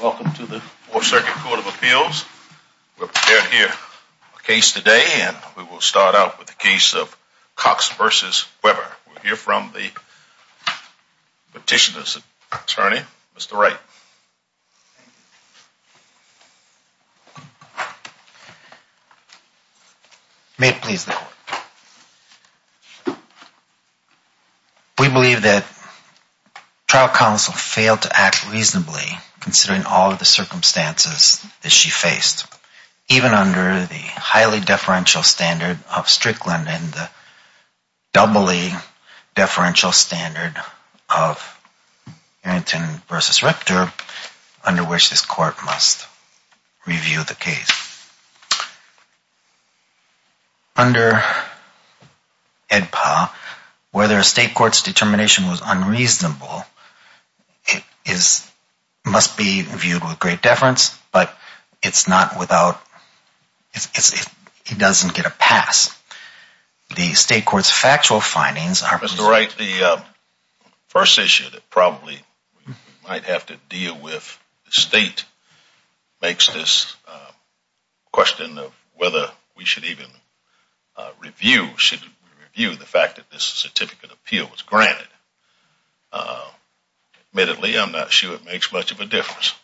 Welcome to the 4th Circuit Court of Appeals. We're prepared to hear a case today and we will start out with the case of Cox v. Weber. We'll hear from the petitioner's attorney, Mr. Wright. May it please the Court. We believe that trial counsel failed to act reasonably considering all of the circumstances that she faced. Even under the highly deferential standard of Strickland and the doubly deferential standard of Arrington v. Richter, under which this Court must review the case. Under AEDPA, whether a state court's determination was unreasonable must be viewed with great Mr. Wright, the first issue that probably we might have to deal with, the state makes this question of whether we should even review the fact that this certificate of appeal was granted. Admittedly, I'm not sure it makes much of a difference,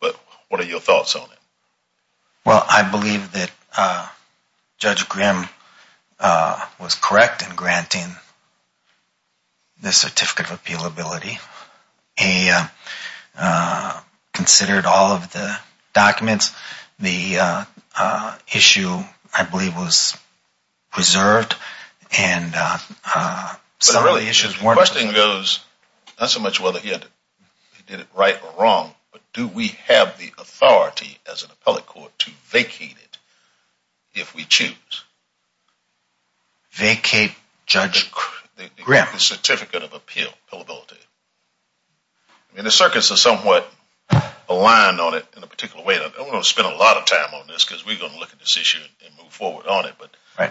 but what are your thoughts on it? Well, I believe that Judge Grimm was correct in granting the certificate of appealability. He considered all of the documents. The issue, I believe, was preserved and some of the issues weren't. The question goes, not so much whether he did it right or wrong, but do we have the authority as an appellate court to vacate it if we choose? Vacate Judge Grimm? The certificate of appealability. The circuits are somewhat aligned on it in a particular way. I don't want to spend a lot of time on this because we're going to look at this issue and move forward on it.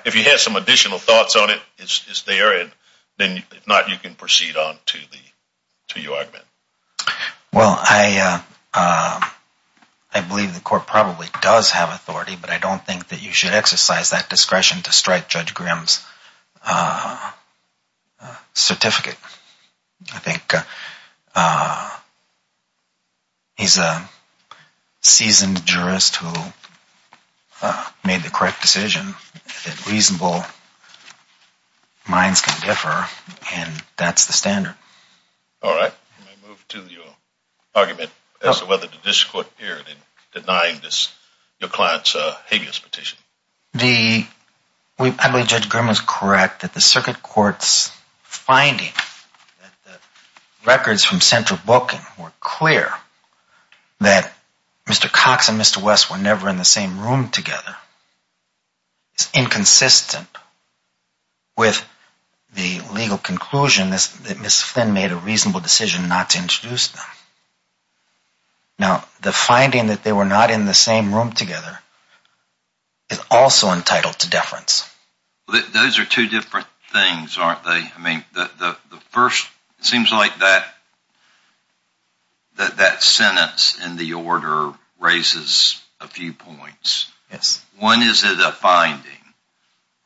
If you have some additional thoughts on it, it's there. If not, you can proceed on to your argument. Well, I believe the court probably does have authority, but I don't think that you should exercise that discretion to strike Judge Grimm's certificate. I think he's a seasoned jurist who made the correct decision that reasonable minds can differ, and that's the standard. All right. Let me move to your argument as to whether the district court appeared in denying your client's habeas petition. I believe Judge Grimm is correct that the circuit court's finding that the records from central booking were clear that Mr. Cox and Mr. West were never in the same room together is inconsistent with the legal conclusion that Ms. Flynn made a reasonable decision not to introduce them. Now, the finding that they were not in the same room together is also entitled to deference. Those are two different things, aren't they? It seems like that sentence in the order raises a few points. Yes. One is, is it a finding?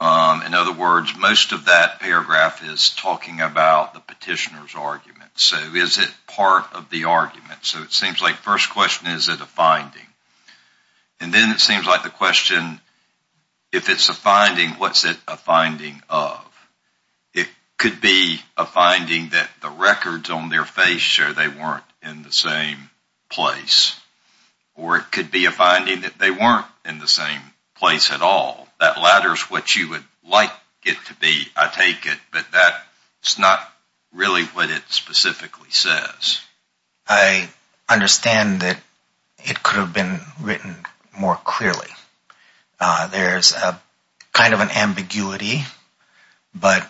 In other words, most of that paragraph is talking about the petitioner's argument. So is it part of the argument? So it seems like the first question is, is it a finding? And then it seems like the question, if it's a finding, what's it a finding of? It could be a finding that the records on their face show they weren't in the same place, or it could be a finding that they weren't in the same place at all. That latter is what you would like it to be, I take it, but that's not really what it specifically says. I understand that it could have been written more clearly. There's kind of an ambiguity. There's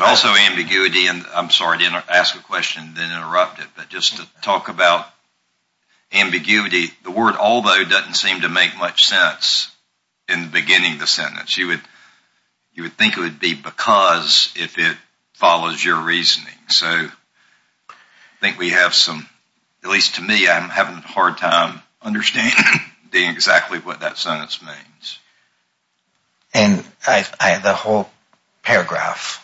also ambiguity, and I'm sorry to ask a question and then interrupt it, but just to talk about ambiguity, the word although doesn't seem to make much sense in the beginning of the sentence. You would think it would be because if it follows your reasoning. So I think we have some, at least to me, I'm having a hard time understanding exactly what that sentence means. And the whole paragraph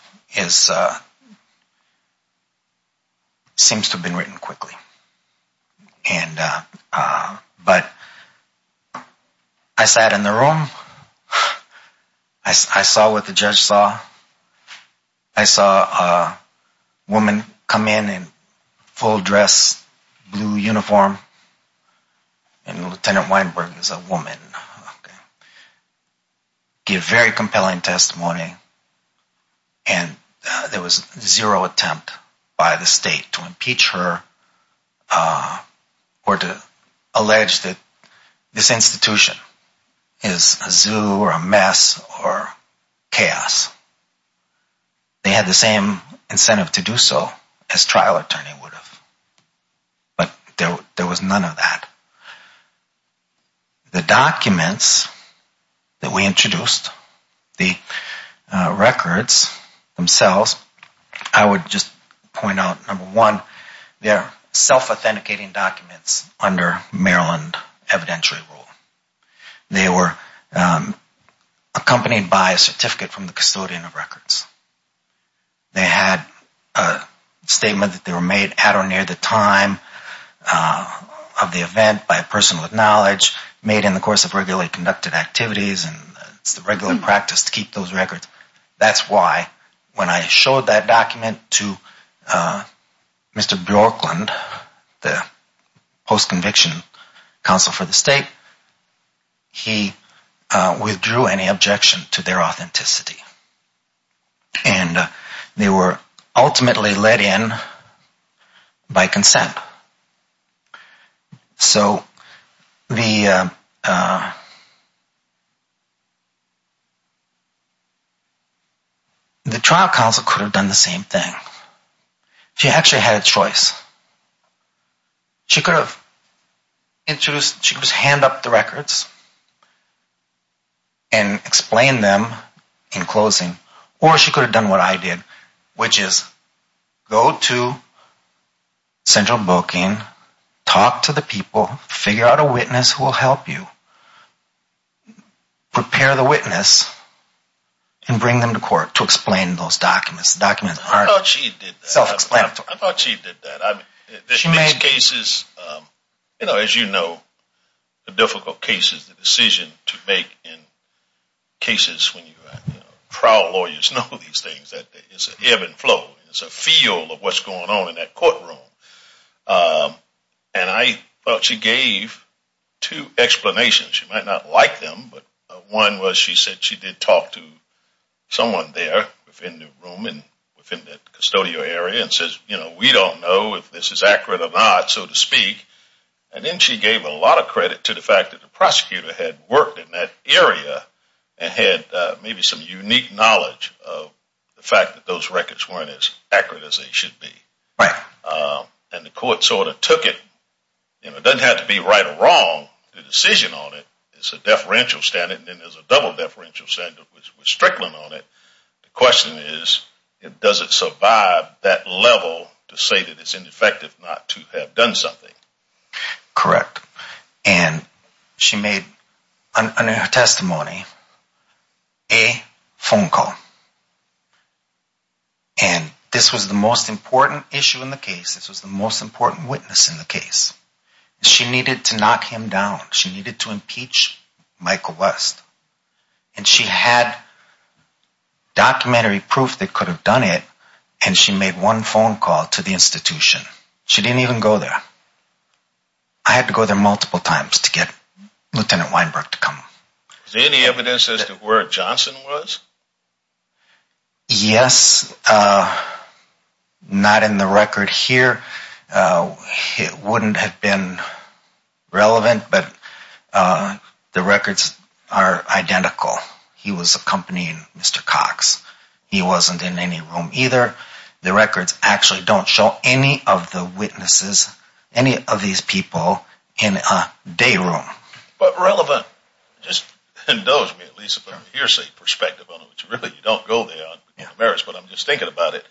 seems to have been written quickly. But I sat in the room. I saw what the judge saw. I saw a woman come in in full dress, blue uniform, and Lieutenant Weinberg is a woman. She had very compelling testimony, and there was zero attempt by the state to impeach her or to allege that this institution is a zoo or a mess or chaos. They had the same incentive to do so as a trial attorney would have, but there was none of that. The documents that we introduced, the records themselves, I would just point out, number one, they're self-authenticating documents under Maryland evidentiary rule. They were accompanied by a certificate from the custodian of records. They had a statement that they were made at or near the time of the event by a person with knowledge, made in the course of regularly conducted activities, and it's the regular practice to keep those records. That's why when I showed that document to Mr. Bjorklund, the post-conviction counsel for the state, he withdrew any objection to their authenticity. And they were ultimately let in by consent. So the trial counsel could have done the same thing. She actually had a choice. She could have introduced, she could just hand up the records and explain them in closing, or she could have done what I did, which is go to central booking, talk to the people, figure out a witness who will help you, prepare the witness, and bring them to court to explain those documents. I thought she did that. In these cases, as you know, the difficult cases, the decision to make in cases when trial lawyers know these things, it's an ebb and flow, it's a feel of what's going on in that courtroom. And I thought she gave two explanations. She might not like them, but one was she said she did talk to someone there within the room and within the custodial area and says, you know, we don't know if this is accurate or not, so to speak. And then she gave a lot of credit to the fact that the prosecutor had worked in that area and had maybe some unique knowledge of the fact that those records weren't as accurate as they should be. And the court sort of took it. It doesn't have to be right or wrong, the decision on it, it's a deferential standard, and then there's a double deferential standard with Strickland on it. The question is, does it survive that level to say that it's ineffective not to have done something? Correct. And she made a testimony, a phone call. And this was the most important issue in the case. This was the most important witness in the case. She needed to knock him down. She needed to impeach Michael West. And she had documentary proof that could have done it. And she made one phone call to the institution. She didn't even go there. I had to go there multiple times to get Lt. Weinberg to come. Is there any evidence as to where Johnson was? Yes, not in the record here. It wouldn't have been relevant, but the records are identical. He was accompanying Mr. Cox. He wasn't in any room either. The records actually don't show any of the witnesses, any of these people in a day room. But relevant. It just endows me, at least from a hearsay perspective on it, which really you don't go there on merits, but I'm just thinking about it.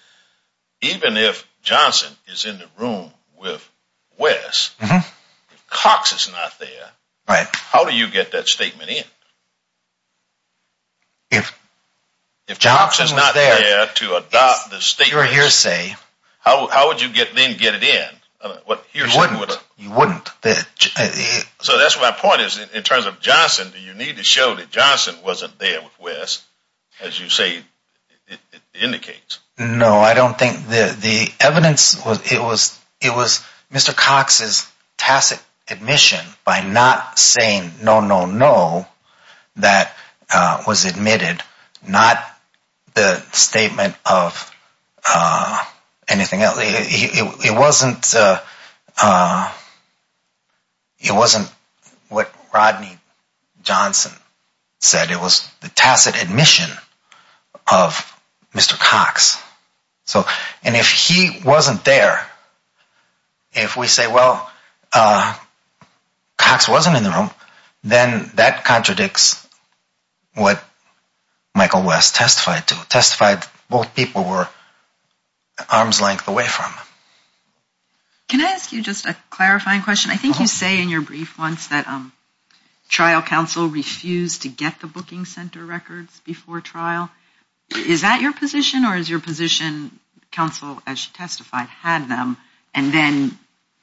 Even if Johnson is in the room with West, if Cox is not there, how do you get that statement in? If Johnson was there, it's pure hearsay. How would you then get it in? You wouldn't. So that's my point is, in terms of Johnson, do you need to show that Johnson wasn't there with West, as you say it indicates? No, I don't think the evidence, it was Mr. Cox's tacit admission by not saying no, no, no, that was admitted, not the statement of anything else. It wasn't what Rodney Johnson said. It was the tacit admission of Mr. Cox. And if he wasn't there, if we say, well, Cox wasn't in the room, then that contradicts what Michael West testified to, testified both people were arms length away from. Can I ask you just a clarifying question? I think you say in your brief once that trial counsel refused to get the booking center records before trial. Is that your position or is your position counsel, as she testified, had them and then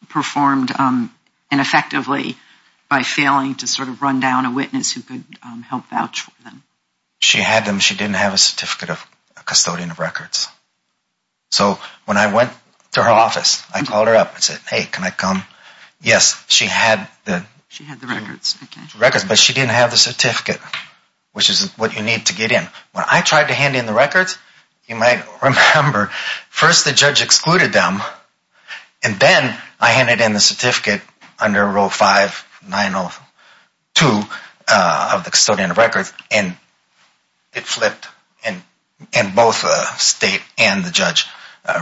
performed ineffectively by failing to sort of run down a witness who could help vouch for them? She had them. She didn't have a certificate of custodian of records. So when I went to her office, I called her up and said, hey, can I come? Yes, she had the records, but she didn't have the certificate, which is what you need to get in. When I tried to hand in the records, you might remember first the judge excluded them, and then I handed in the certificate under row 5902 of the custodian of records, and it flipped. And both the state and the judge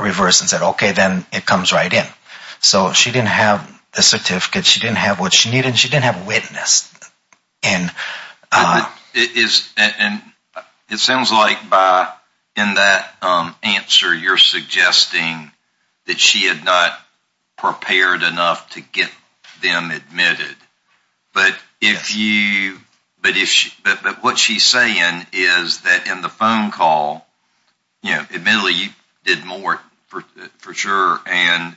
reversed and said, okay, then it comes right in. So she didn't have the certificate. She didn't have what she needed, and she didn't have a witness. And it sounds like in that answer you're suggesting that she had not prepared enough to get them admitted. But what she's saying is that in the phone call, admittedly you did more for sure, but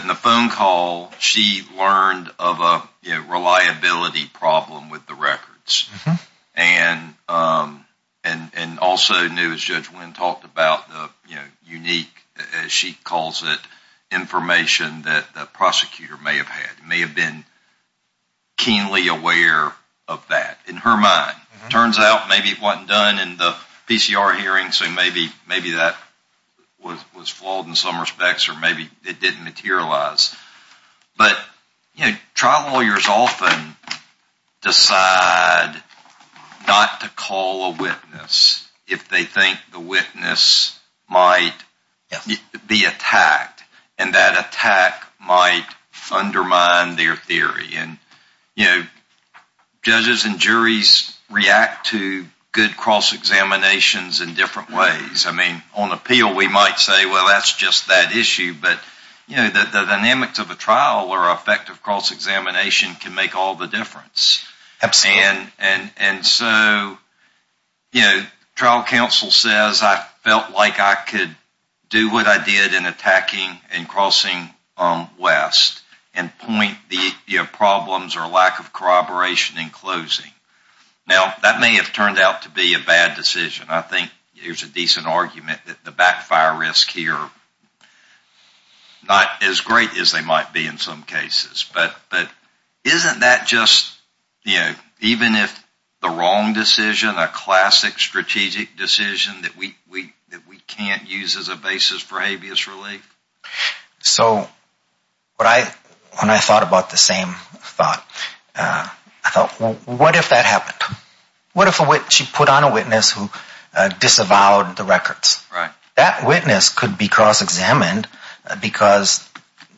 in the phone call she learned of a reliability problem with the records. And also knew, as Judge Wynn talked about, unique, as she calls it, information that the prosecutor may have had, may have been keenly aware of that in her mind. Turns out maybe it wasn't done in the PCR hearing, so maybe that was flawed in some respects, or maybe it didn't materialize. But, you know, trial lawyers often decide not to call a witness if they think the witness might be attacked, and that attack might undermine their theory. And, you know, judges and juries react to good cross-examinations in different ways. I mean, on appeal we might say, well, that's just that issue. But, you know, the dynamics of a trial or effective cross-examination can make all the difference. Absolutely. And so, you know, trial counsel says, I felt like I could do what I did in attacking and crossing West and point the problems or lack of corroboration in closing. Now, that may have turned out to be a bad decision. I think there's a decent argument that the backfire risk here, not as great as they might be in some cases. But isn't that just, you know, even if the wrong decision, a classic strategic decision that we can't use as a basis for habeas relief? So when I thought about the same thought, I thought, well, what if that happened? What if she put on a witness who disavowed the records? Right. That witness could be cross-examined because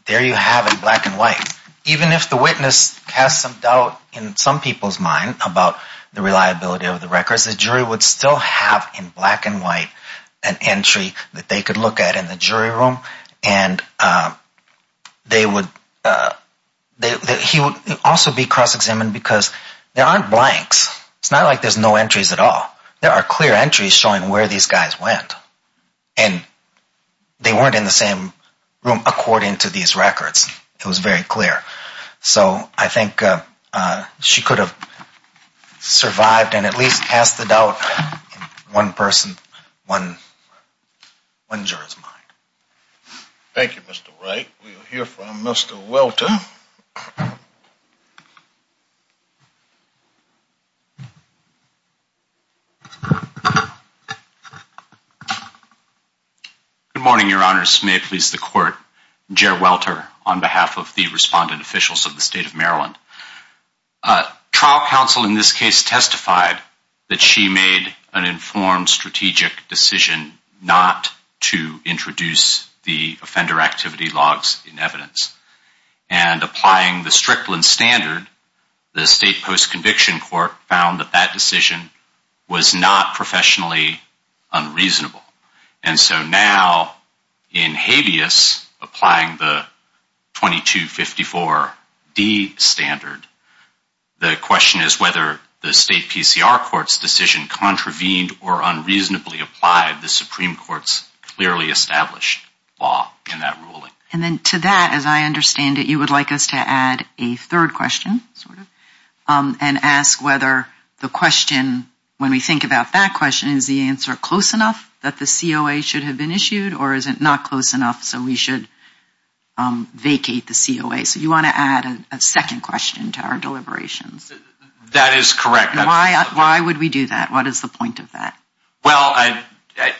there you have it, black and white. Even if the witness has some doubt in some people's mind about the reliability of the records, the jury would still have in black and white an entry that they could look at in the jury room. And he would also be cross-examined because there aren't blanks. It's not like there's no entries at all. There are clear entries showing where these guys went. And they weren't in the same room according to these records. It was very clear. So I think she could have survived and at least passed the doubt in one person, one juror's mind. Thank you, Mr. Wright. We will hear from Mr. Welter. Good morning, Your Honors. May it please the Court. Jer Welter on behalf of the respondent officials of the state of Maryland. Trial counsel in this case testified that she made an informed strategic decision not to introduce the offender activity logs in evidence. And applying the Strickland standard, the state post-conviction court found that that decision was not professionally unreasonable. And so now in habeas, applying the 2254D standard, the question is whether the state PCR court's decision contravened or unreasonably applied the Supreme Court's clearly established law in that ruling. And then to that, as I understand it, you would like us to add a third question, sort of, and ask whether the question, when we think about that question, is the answer close enough that the COA should have been issued or is it not close enough so we should vacate the COA? So you want to add a second question to our deliberations? That is correct. Why would we do that? What is the point of that? Well,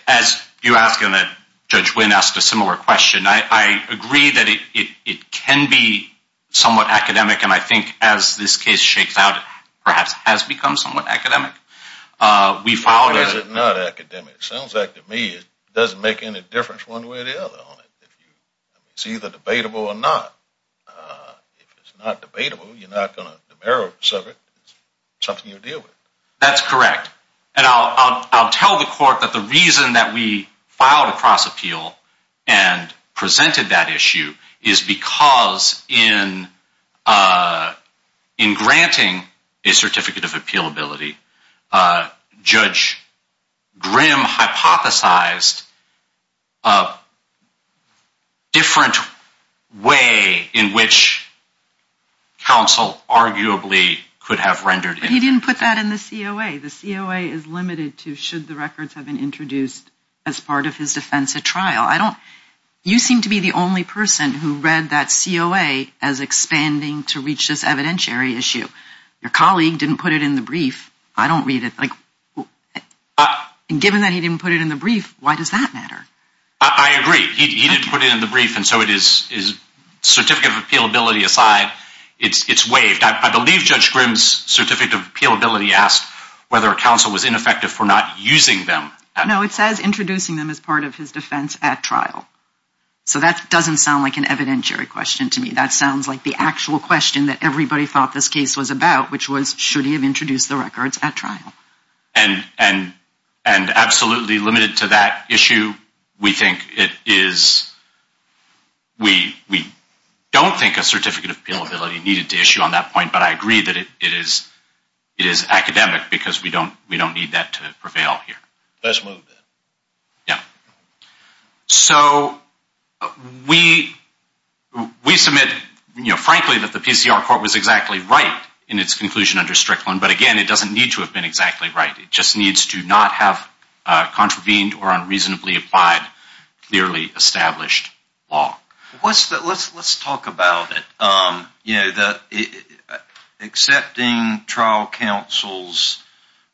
as you ask, and Judge Wynn asked a similar question, I agree that it can be somewhat academic. And I think as this case shakes out, it perhaps has become somewhat academic. Why is it not academic? It sounds like to me it doesn't make any difference one way or the other on it. It's either debatable or not. If it's not debatable, you're not going to demerit it. It's something you deal with. That's correct. And I'll tell the court that the reason that we filed a cross-appeal and presented that issue is because in granting a certificate of appealability, Judge Grimm hypothesized a different way in which counsel arguably could have rendered it. But he didn't put that in the COA. The COA is limited to should the records have been introduced as part of his defense at trial. You seem to be the only person who read that COA as expanding to reach this evidentiary issue. Your colleague didn't put it in the brief. I don't read it. And given that he didn't put it in the brief, why does that matter? I agree. He didn't put it in the brief, and so it is certificate of appealability aside, it's waived. I believe Judge Grimm's certificate of appealability asked whether counsel was ineffective for not using them. No, it says introducing them as part of his defense at trial. So that doesn't sound like an evidentiary question to me. That sounds like the actual question that everybody thought this case was about, which was should he have introduced the records at trial. And absolutely limited to that issue, we think it is, we don't think a certificate of appealability needed to issue on that point, but I agree that it is academic because we don't need that to prevail here. Let's move that. Yeah. So we submit, you know, frankly that the PCR court was exactly right in its conclusion under Strickland, but again, it doesn't need to have been exactly right. It just needs to not have contravened or unreasonably applied clearly established law. Let's talk about it. You know, accepting trial counsel's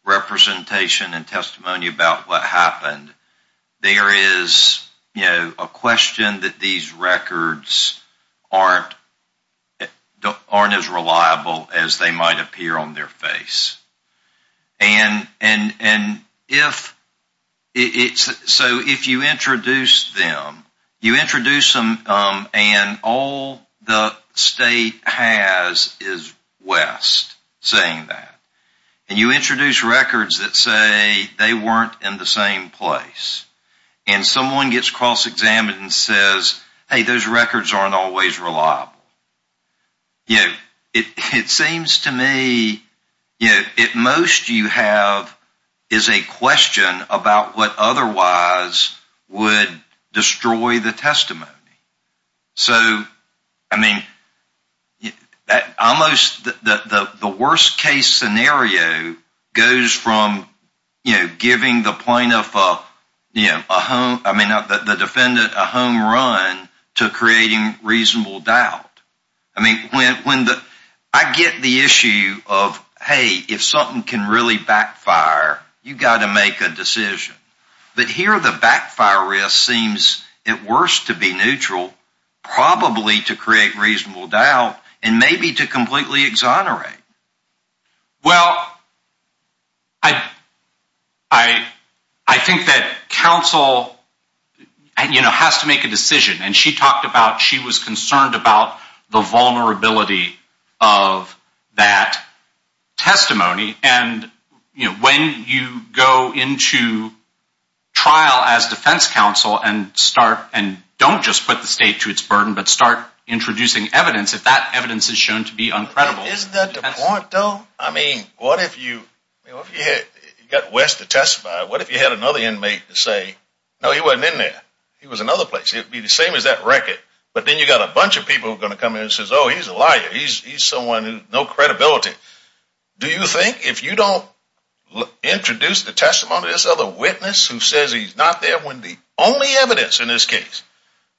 representation and testimony about what happened, there is, you know, a question that these records aren't as reliable as they might appear on their face. And if, so if you introduce them, you introduce them and all the state has is West saying that. And you introduce records that say they weren't in the same place. And someone gets cross examined and says, hey, those records aren't always reliable. You know, it seems to me, you know, it most you have is a question about what otherwise would destroy the testimony. So, I mean, almost the worst case scenario goes from, you know, giving the plaintiff a home run to creating reasonable doubt. I mean, I get the issue of, hey, if something can really backfire, you've got to make a decision. But here the backfire risk seems at worst to be neutral, probably to create reasonable doubt and maybe to completely exonerate. Well, I, I, I think that counsel, you know, has to make a decision. And she talked about she was concerned about the vulnerability of that testimony. And, you know, when you go into trial as defense counsel and start, and don't just put the state to its burden, but start introducing evidence, if that evidence is shown to be uncredible. Isn't that the point, though? I mean, what if you, you know, if you had, you got West to testify, what if you had another inmate to say, no, he wasn't in there. He was another place. It would be the same as that record. But then you've got a bunch of people who are going to come in and say, oh, he's a liar. He's someone with no credibility. Do you think if you don't introduce the testimony of this other witness who says he's not there when the only evidence in this case,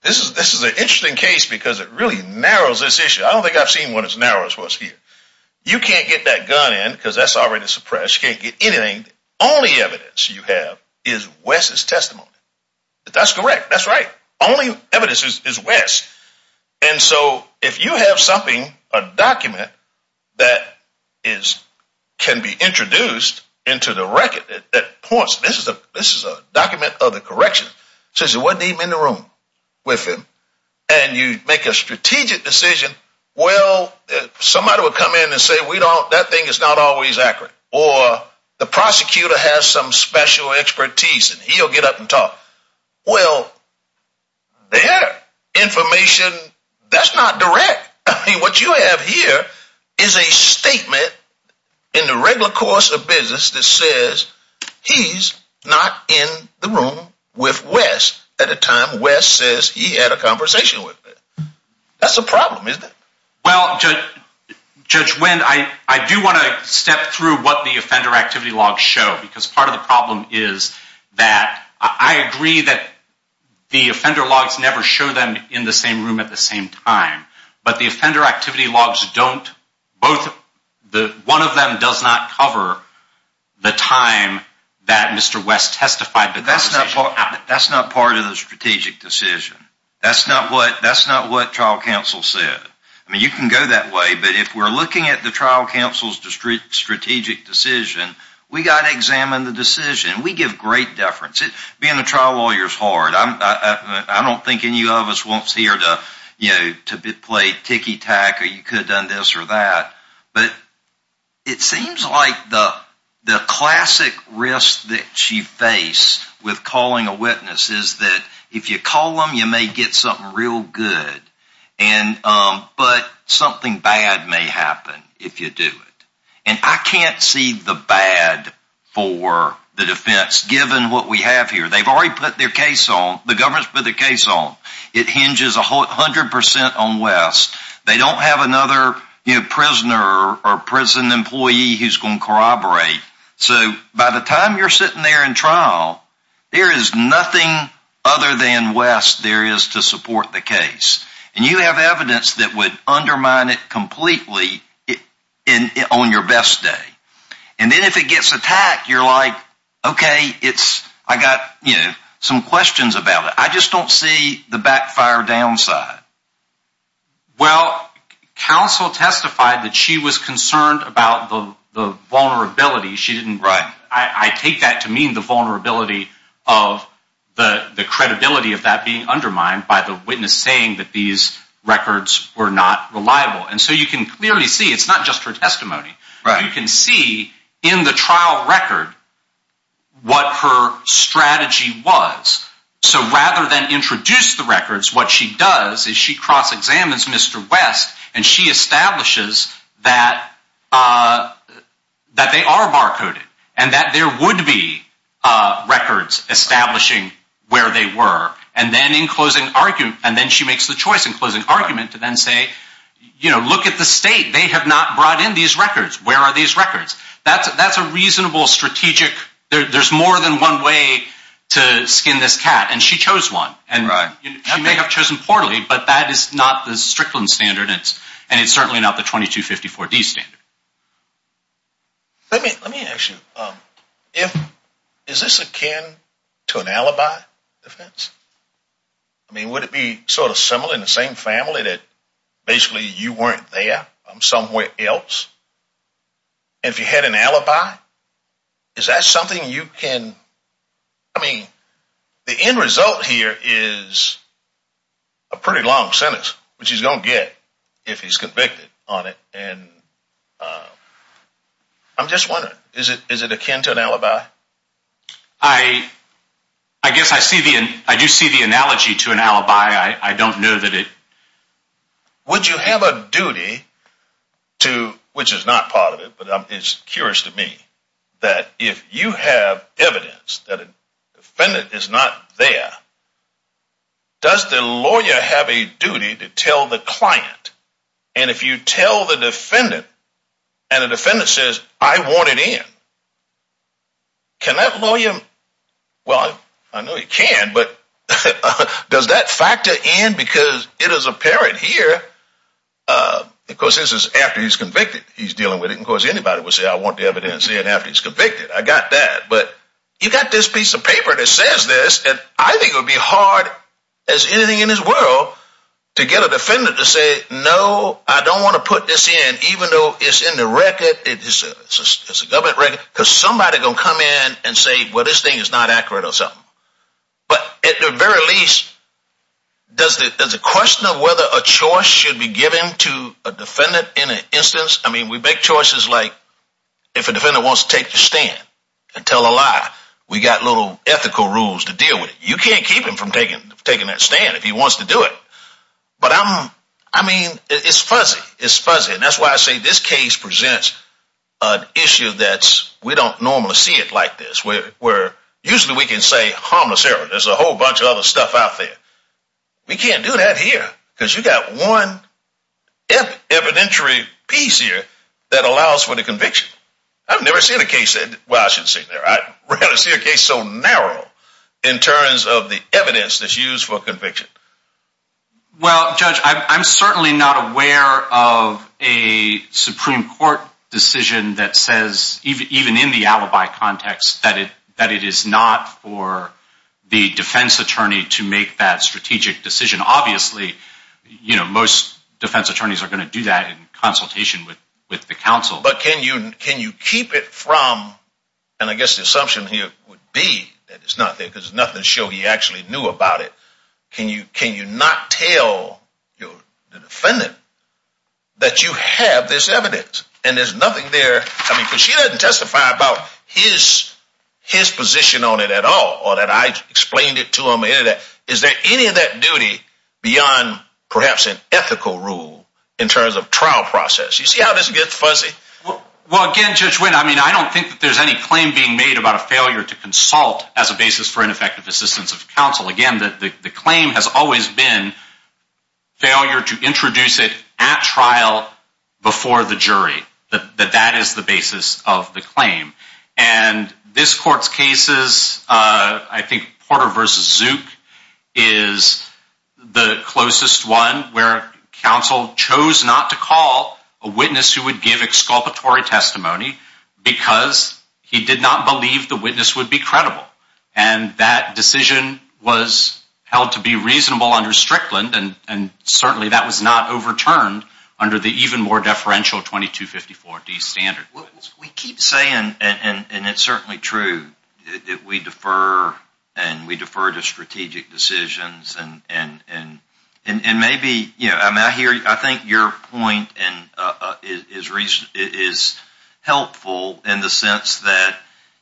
this is, this is an interesting case because it really narrows this issue. I don't think I've seen one as narrow as what's here. You can't get that gun in because that's already suppressed. You can't get anything. Only evidence you have is West's testimony. That's correct. That's right. Only evidence is West. And so if you have something, a document that is, can be introduced into the record that points, this is a, this is a document of the correction. Since it wasn't even in the room with him and you make a strategic decision, well, somebody would come in and say, we don't, that thing is not always accurate. Or the prosecutor has some special expertise and he'll get up and talk. Well, they have information that's not direct. I mean, what you have here is a statement in the regular course of business that says he's not in the room with West at a time West says he had a conversation with him. That's a problem, isn't it? Well, Judge Wendt, I do want to step through what the offender activity logs show because part of the problem is that I agree that the offender logs never show them in the same room at the same time. But the offender activity logs don't, both, one of them does not cover the time that Mr. West testified. That's not part of the strategic decision. That's not what, that's not what trial counsel said. I mean, you can go that way, but if we're looking at the trial counsel's strategic decision, we've got to examine the decision. We give great deference. Being a trial lawyer is hard. I don't think any of us wants here to play ticky-tack or you could have done this or that. But it seems like the classic risk that you face with calling a witness is that if you call them, you may get something real good. But something bad may happen if you do it. And I can't see the bad for the defense, given what we have here. They've already put their case on, the government's put their case on. It hinges 100% on West. They don't have another prisoner or prison employee who's going to corroborate. So by the time you're sitting there in trial, there is nothing other than West there is to support the case. And you have evidence that would undermine it completely on your best day. And then if it gets attacked, you're like, okay, I got some questions about it. I just don't see the backfire downside. Well, counsel testified that she was concerned about the vulnerability. I take that to mean the vulnerability of the credibility of that being undermined by the witness saying that these records were not reliable. And so you can clearly see it's not just her testimony. You can see in the trial record what her strategy was. So rather than introduce the records, what she does is she cross-examines Mr. West. And she establishes that they are barcoded and that there would be records establishing where they were. And then she makes the choice in closing argument to then say, look at the state. They have not brought in these records. Where are these records? That's a reasonable strategic. There's more than one way to skin this cat. And she chose one. And she may have chosen poorly. But that is not the Strickland standard. And it's certainly not the 2254D standard. Let me ask you. Is this akin to an alibi defense? I mean, would it be sort of similar in the same family that basically you weren't there? I'm somewhere else. And if you had an alibi, is that something you can, I mean, the end result here is a pretty long sentence, which he's going to get if he's convicted on it. And I'm just wondering, is it akin to an alibi? I guess I do see the analogy to an alibi. I don't know that it. Would you have a duty to, which is not part of it, but it's curious to me, that if you have evidence that a defendant is not there, does the lawyer have a duty to tell the client? And if you tell the defendant and the defendant says, I want it in, can that lawyer, well, I know he can, but does that factor in? Because it is apparent here, of course, this is after he's convicted, he's dealing with it. Of course, anybody would say, I want the evidence in after he's convicted. I got that. But you got this piece of paper that says this, and I think it would be hard as anything in this world to get a defendant to say, no, I don't want to put this in, even though it's in the record, it's a government record, because somebody is going to come in and say, well, this thing is not accurate or something. But at the very least, does the question of whether a choice should be given to a defendant in an instance, I mean, we make choices like if a defendant wants to take the stand and tell a lie, we got little ethical rules to deal with it. You can't keep him from taking that stand if he wants to do it. But I mean, it's fuzzy. It's fuzzy, and that's why I say this case presents an issue that we don't normally see it like this, where usually we can say harmless error. There's a whole bunch of other stuff out there. We can't do that here, because you got one evidentiary piece here that allows for the conviction. I've never seen a case that, well, I shouldn't say that, I rarely see a case so narrow in terms of the evidence that's used for conviction. Well, Judge, I'm certainly not aware of a Supreme Court decision that says, even in the alibi context, that it is not for the defense attorney to make that strategic decision. Obviously, most defense attorneys are going to do that in consultation with the counsel. But can you keep it from, and I guess the assumption here would be that it's not there, because there's nothing to show he actually knew about it. Can you not tell the defendant that you have this evidence? And there's nothing there, I mean, because she doesn't testify about his position on it at all, or that I explained it to him, or any of that. Is there any of that duty beyond perhaps an ethical rule in terms of trial process? You see how this gets fuzzy. Well, again, Judge Wynn, I mean, I don't think that there's any claim being made about a failure to consult as a basis for ineffective assistance of counsel. Again, the claim has always been failure to introduce it at trial before the jury, that that is the basis of the claim. And this court's cases, I think Porter v. Zook is the closest one where counsel chose not to call a witness who would give exculpatory testimony because he did not believe the witness would be credible. And that decision was held to be reasonable under Strickland, and certainly that was not overturned under the even more deferential 2254D standard. We keep saying, and it's certainly true, that we defer, and we defer to strategic decisions. And maybe, you know, I'm out here, I think your point is helpful in the sense that,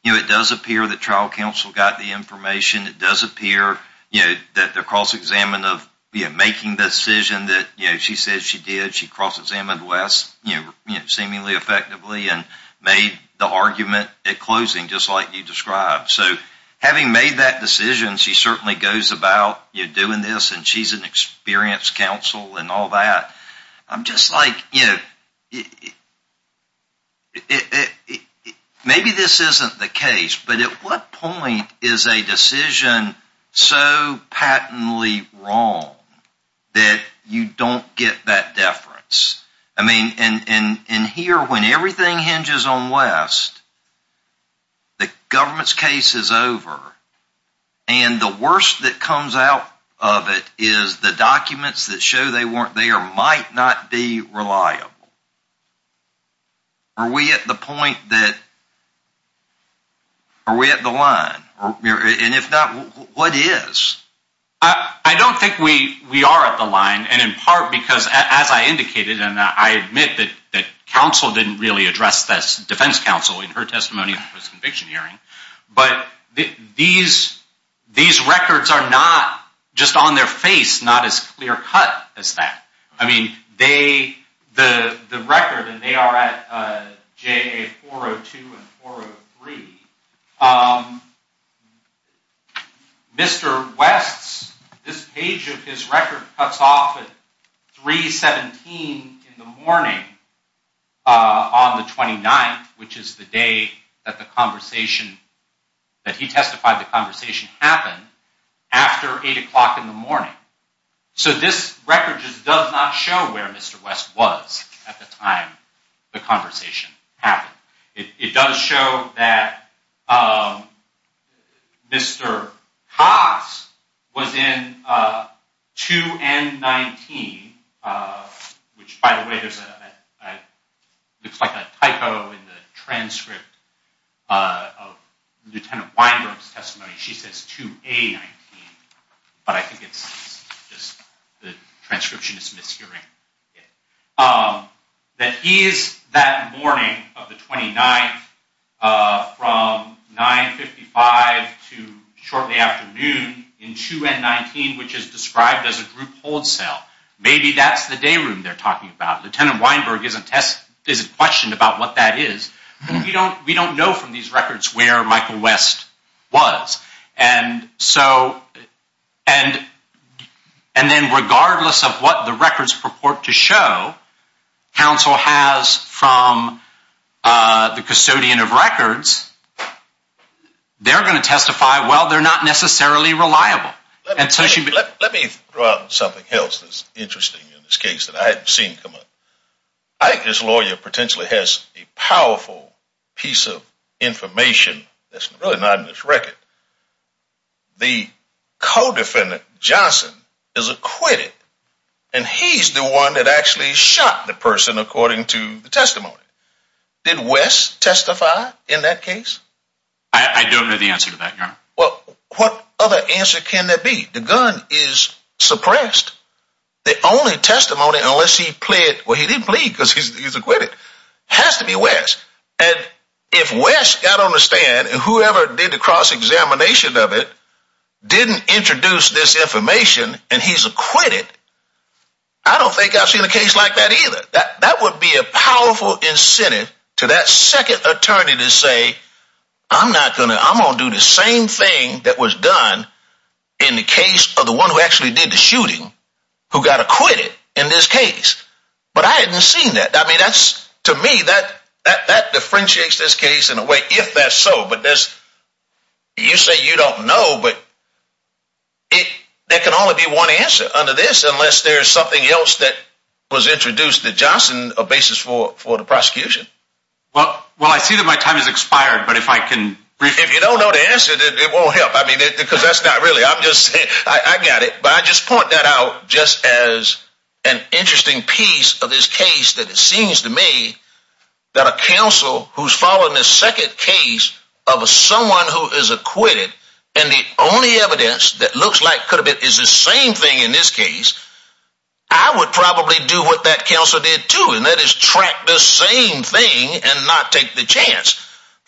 you know, it does appear that trial counsel got the information, it does appear, you know, that the cross-examination of making the decision that, you know, she said she did, that she cross-examined West, you know, seemingly effectively, and made the argument at closing just like you described. So having made that decision, she certainly goes about, you know, doing this, and she's an experienced counsel and all that. I'm just like, you know, maybe this isn't the case, but at what point is a decision so patently wrong that you don't get that deference? I mean, and here, when everything hinges on West, the government's case is over, and the worst that comes out of it is the documents that show they might not be reliable. Are we at the point that, are we at the line? And if not, what is? I don't think we are at the line, and in part because, as I indicated, and I admit that counsel didn't really address this, defense counsel, in her testimony at the first conviction hearing, but these records are not, just on their face, not as clear cut as that. I mean, they, the record, and they are at JA 402 and 403. Mr. West's, this page of his record cuts off at 3.17 in the morning on the 29th, which is the day that the conversation, that he testified the conversation happened, after 8 o'clock in the morning. So this record just does not show where Mr. West was at the time the conversation happened. It does show that Mr. Cox was in 2N19, which, by the way, looks like a typo in the transcript of Lieutenant Weinberg's testimony. She says 2A19, but I think it's just the transcription is mishearing. That he is that morning of the 29th, from 9.55 to shortly after noon, in 2N19, which is described as a group hold cell. Maybe that's the day room they're talking about. Lieutenant Weinberg isn't questioned about what that is. We don't know from these records where Michael West was. And so, and then regardless of what the records purport to show, counsel has from the custodian of records, they're going to testify, well, they're not necessarily reliable. Let me throw out something else that's interesting in this case that I haven't seen come up. I think this lawyer potentially has a powerful piece of information that's really not in this record. The co-defendant, Johnson, is acquitted, and he's the one that actually shot the person according to the testimony. Did West testify in that case? I don't know the answer to that, Your Honor. Well, what other answer can there be? The gun is suppressed. The only testimony, unless he pleaded, well, he didn't plead because he's acquitted, has to be West. And if West got on the stand and whoever did the cross-examination of it didn't introduce this information and he's acquitted, I don't think I've seen a case like that either. That would be a powerful incentive to that second attorney to say, I'm going to do the same thing that was done in the case of the one who actually did the shooting who got acquitted in this case. But I haven't seen that. I mean, to me, that differentiates this case in a way, if that's so. But you say you don't know, but there can only be one answer under this unless there's something else that was introduced that Johnson, a basis for the prosecution. Well, I see that my time has expired, but if I can. If you don't know the answer, it won't help. I mean, because that's not really I'm just saying I got it. But I just point that out just as an interesting piece of this case that it seems to me that a counsel who's following the second case of someone who is acquitted and the only evidence that looks like could have it is the same thing in this case. I would probably do what that counsel did, too, and that is track the same thing and not take the chance.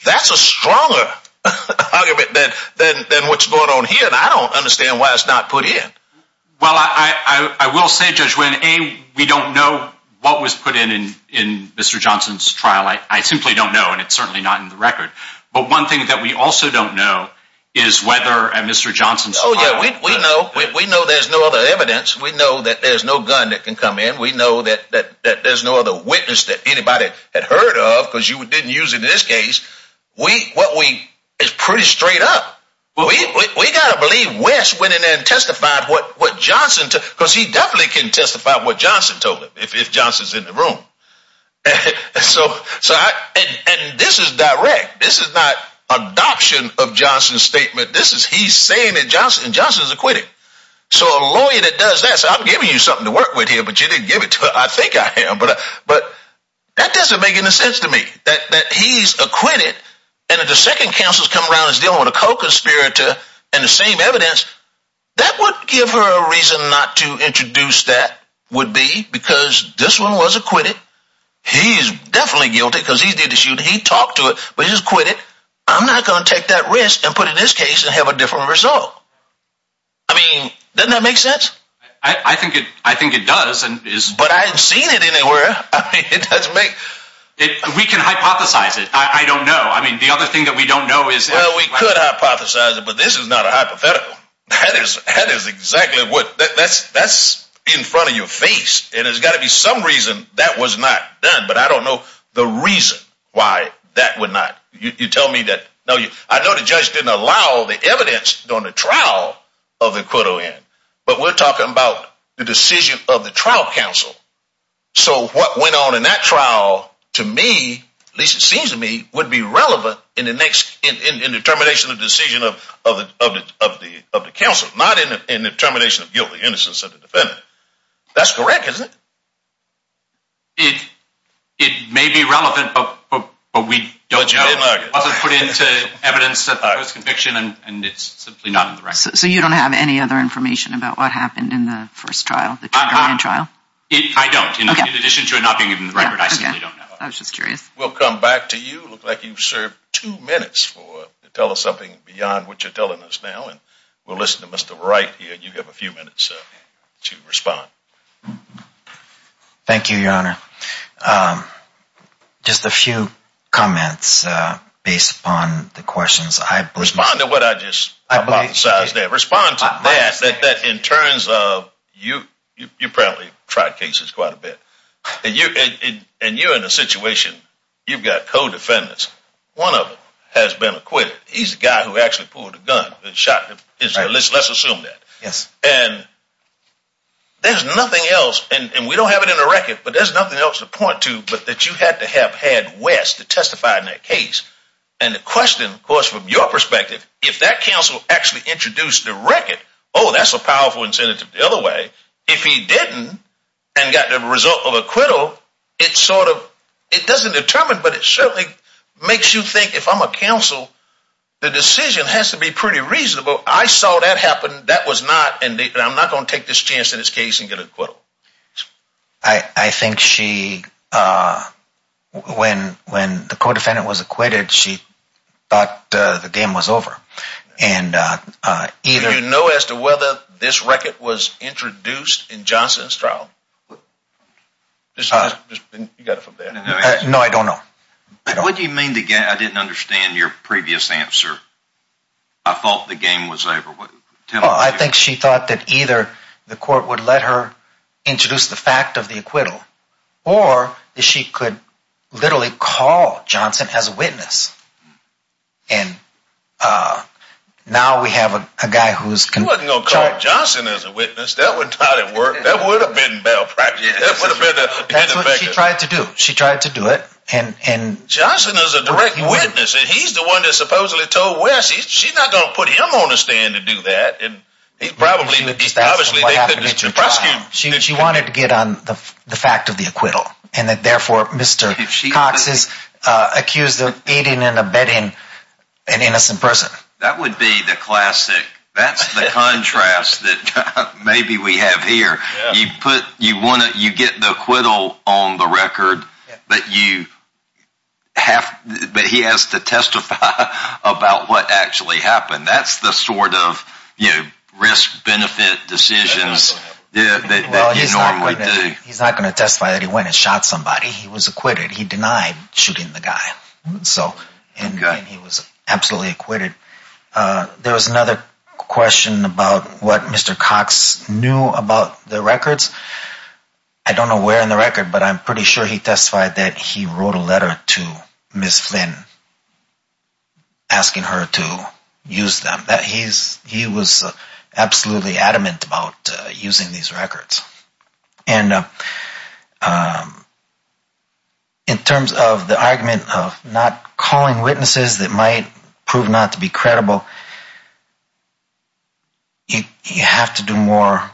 That's a stronger argument than what's going on here. And I don't understand why it's not put in. Well, I will say, Judge, when we don't know what was put in in Mr. Johnson's trial, I simply don't know. And it's certainly not in the record. But one thing that we also don't know is whether Mr. Johnson's. Oh, yeah, we know. We know there's no other evidence. We know that there's no gun that can come in. We know that there's no other witness that anybody had heard of because you didn't use it in this case. We what we is pretty straight up. We got to believe West went in and testified what what Johnson, because he definitely can testify what Johnson told him if Johnson's in the room. So so and this is direct. This is not adoption of Johnson's statement. This is he's saying that Johnson Johnson's acquitted. So a lawyer that does this, I'm giving you something to work with here, but you didn't give it to. I think I am. But but that doesn't make any sense to me that he's acquitted. And if the second counsel's come around, he's dealing with a co-conspirator and the same evidence that would give her a reason not to introduce. That would be because this one was acquitted. He is definitely guilty because he did issue. He talked to it, but he's quit it. I'm not going to take that risk and put in this case and have a different result. I mean, doesn't that make sense? I think I think it does. But I've seen it anywhere. It doesn't make it. We can hypothesize it. I don't know. I mean, the other thing that we don't know is, well, we could hypothesize it. But this is not a hypothetical. That is exactly what that's that's in front of your face. And there's got to be some reason that was not done. But I don't know the reason why that would not. You tell me that. No, I know the judge didn't allow the evidence during the trial of the quid in. But we're talking about the decision of the trial counsel. So what went on in that trial to me, at least it seems to me, would be relevant in the next in determination of decision of the of the of the council, not in the termination of guilty innocence of the defendant. That's correct, isn't it? It may be relevant, but we don't know. It wasn't put into evidence of conviction. And it's simply not. So you don't have any other information about what happened in the first trial trial? I don't. In addition to it not being in the record, I don't know. I was just curious. We'll come back to you. Look like you've served two minutes to tell us something beyond what you're telling us now. And we'll listen to Mr. Wright here. You have a few minutes to respond. Thank you, Your Honor. Just a few comments based upon the questions. Respond to what I just hypothesized there. Respond to that in terms of you. You probably tried cases quite a bit. And you're in a situation. You've got co-defendants. One of them has been acquitted. He's the guy who actually pulled the gun and shot him. Let's assume that. Yes. And there's nothing else. And we don't have it in the record. But there's nothing else to point to but that you had to have had West to testify in that case. And the question, of course, from your perspective, if that counsel actually introduced the record, oh, that's a powerful incentive the other way. If he didn't and got the result of acquittal, it doesn't determine. But it certainly makes you think if I'm a counsel, the decision has to be pretty reasonable. I saw that happen. That was not. And I'm not going to take this chance in this case and get acquittal. I think she, when the co-defendant was acquitted, she thought the game was over. And either. Do you know as to whether this record was introduced in Johnson's trial? No, I don't know. What do you mean? I didn't understand your previous answer. I thought the game was over. I think she thought that either the court would let her introduce the fact of the acquittal or that she could literally call Johnson as a witness. And now we have a guy who's going to call Johnson as a witness. That would not have worked. That would have been bail practice. That's what she tried to do. She tried to do it. Johnson is a direct witness. And he's the one that supposedly told Wes. She's not going to put him on the stand to do that. And he's probably. She wanted to get on the fact of the acquittal. And that therefore, Mr. Cox is accused of aiding and abetting an innocent person. That would be the classic. That's the contrast that maybe we have here. You get the acquittal on the record, but he has to testify about what actually happened. That's the sort of risk-benefit decisions that you normally do. He's not going to testify that he went and shot somebody. He was acquitted. He denied shooting the guy. And he was absolutely acquitted. There was another question about what Mr. Cox knew about the records. I don't know where in the record, but I'm pretty sure he testified that he wrote a letter to Ms. Flynn asking her to use them. He was absolutely adamant about using these records. And in terms of the argument of not calling witnesses that might prove not to be credible, you have to do more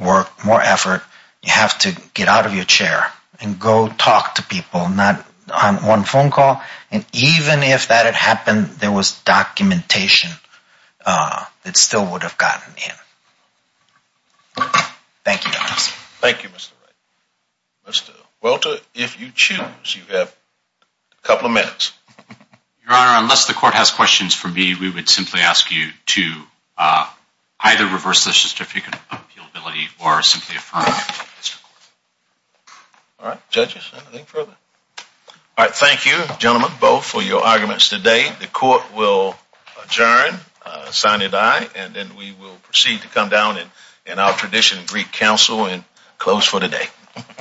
work, more effort. You have to get out of your chair and go talk to people, not on one phone call. And even if that had happened, there was documentation that still would have gotten in. Thank you, Your Honor. Thank you, Mr. Wright. Mr. Welter, if you choose, you have a couple of minutes. Your Honor, unless the Court has questions for me, we would simply ask you to either reverse the certificate of appealability or simply affirm it. All right. Judges, anything further? All right. Thank you, gentlemen, both, for your arguments today. The Court will adjourn. Signed, aye. And then we will proceed to come down in our tradition Greek Council and close for the day.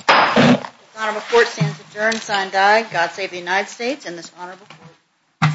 The Court stands adjourned. Signed, aye. God save the United States and this honorable Court.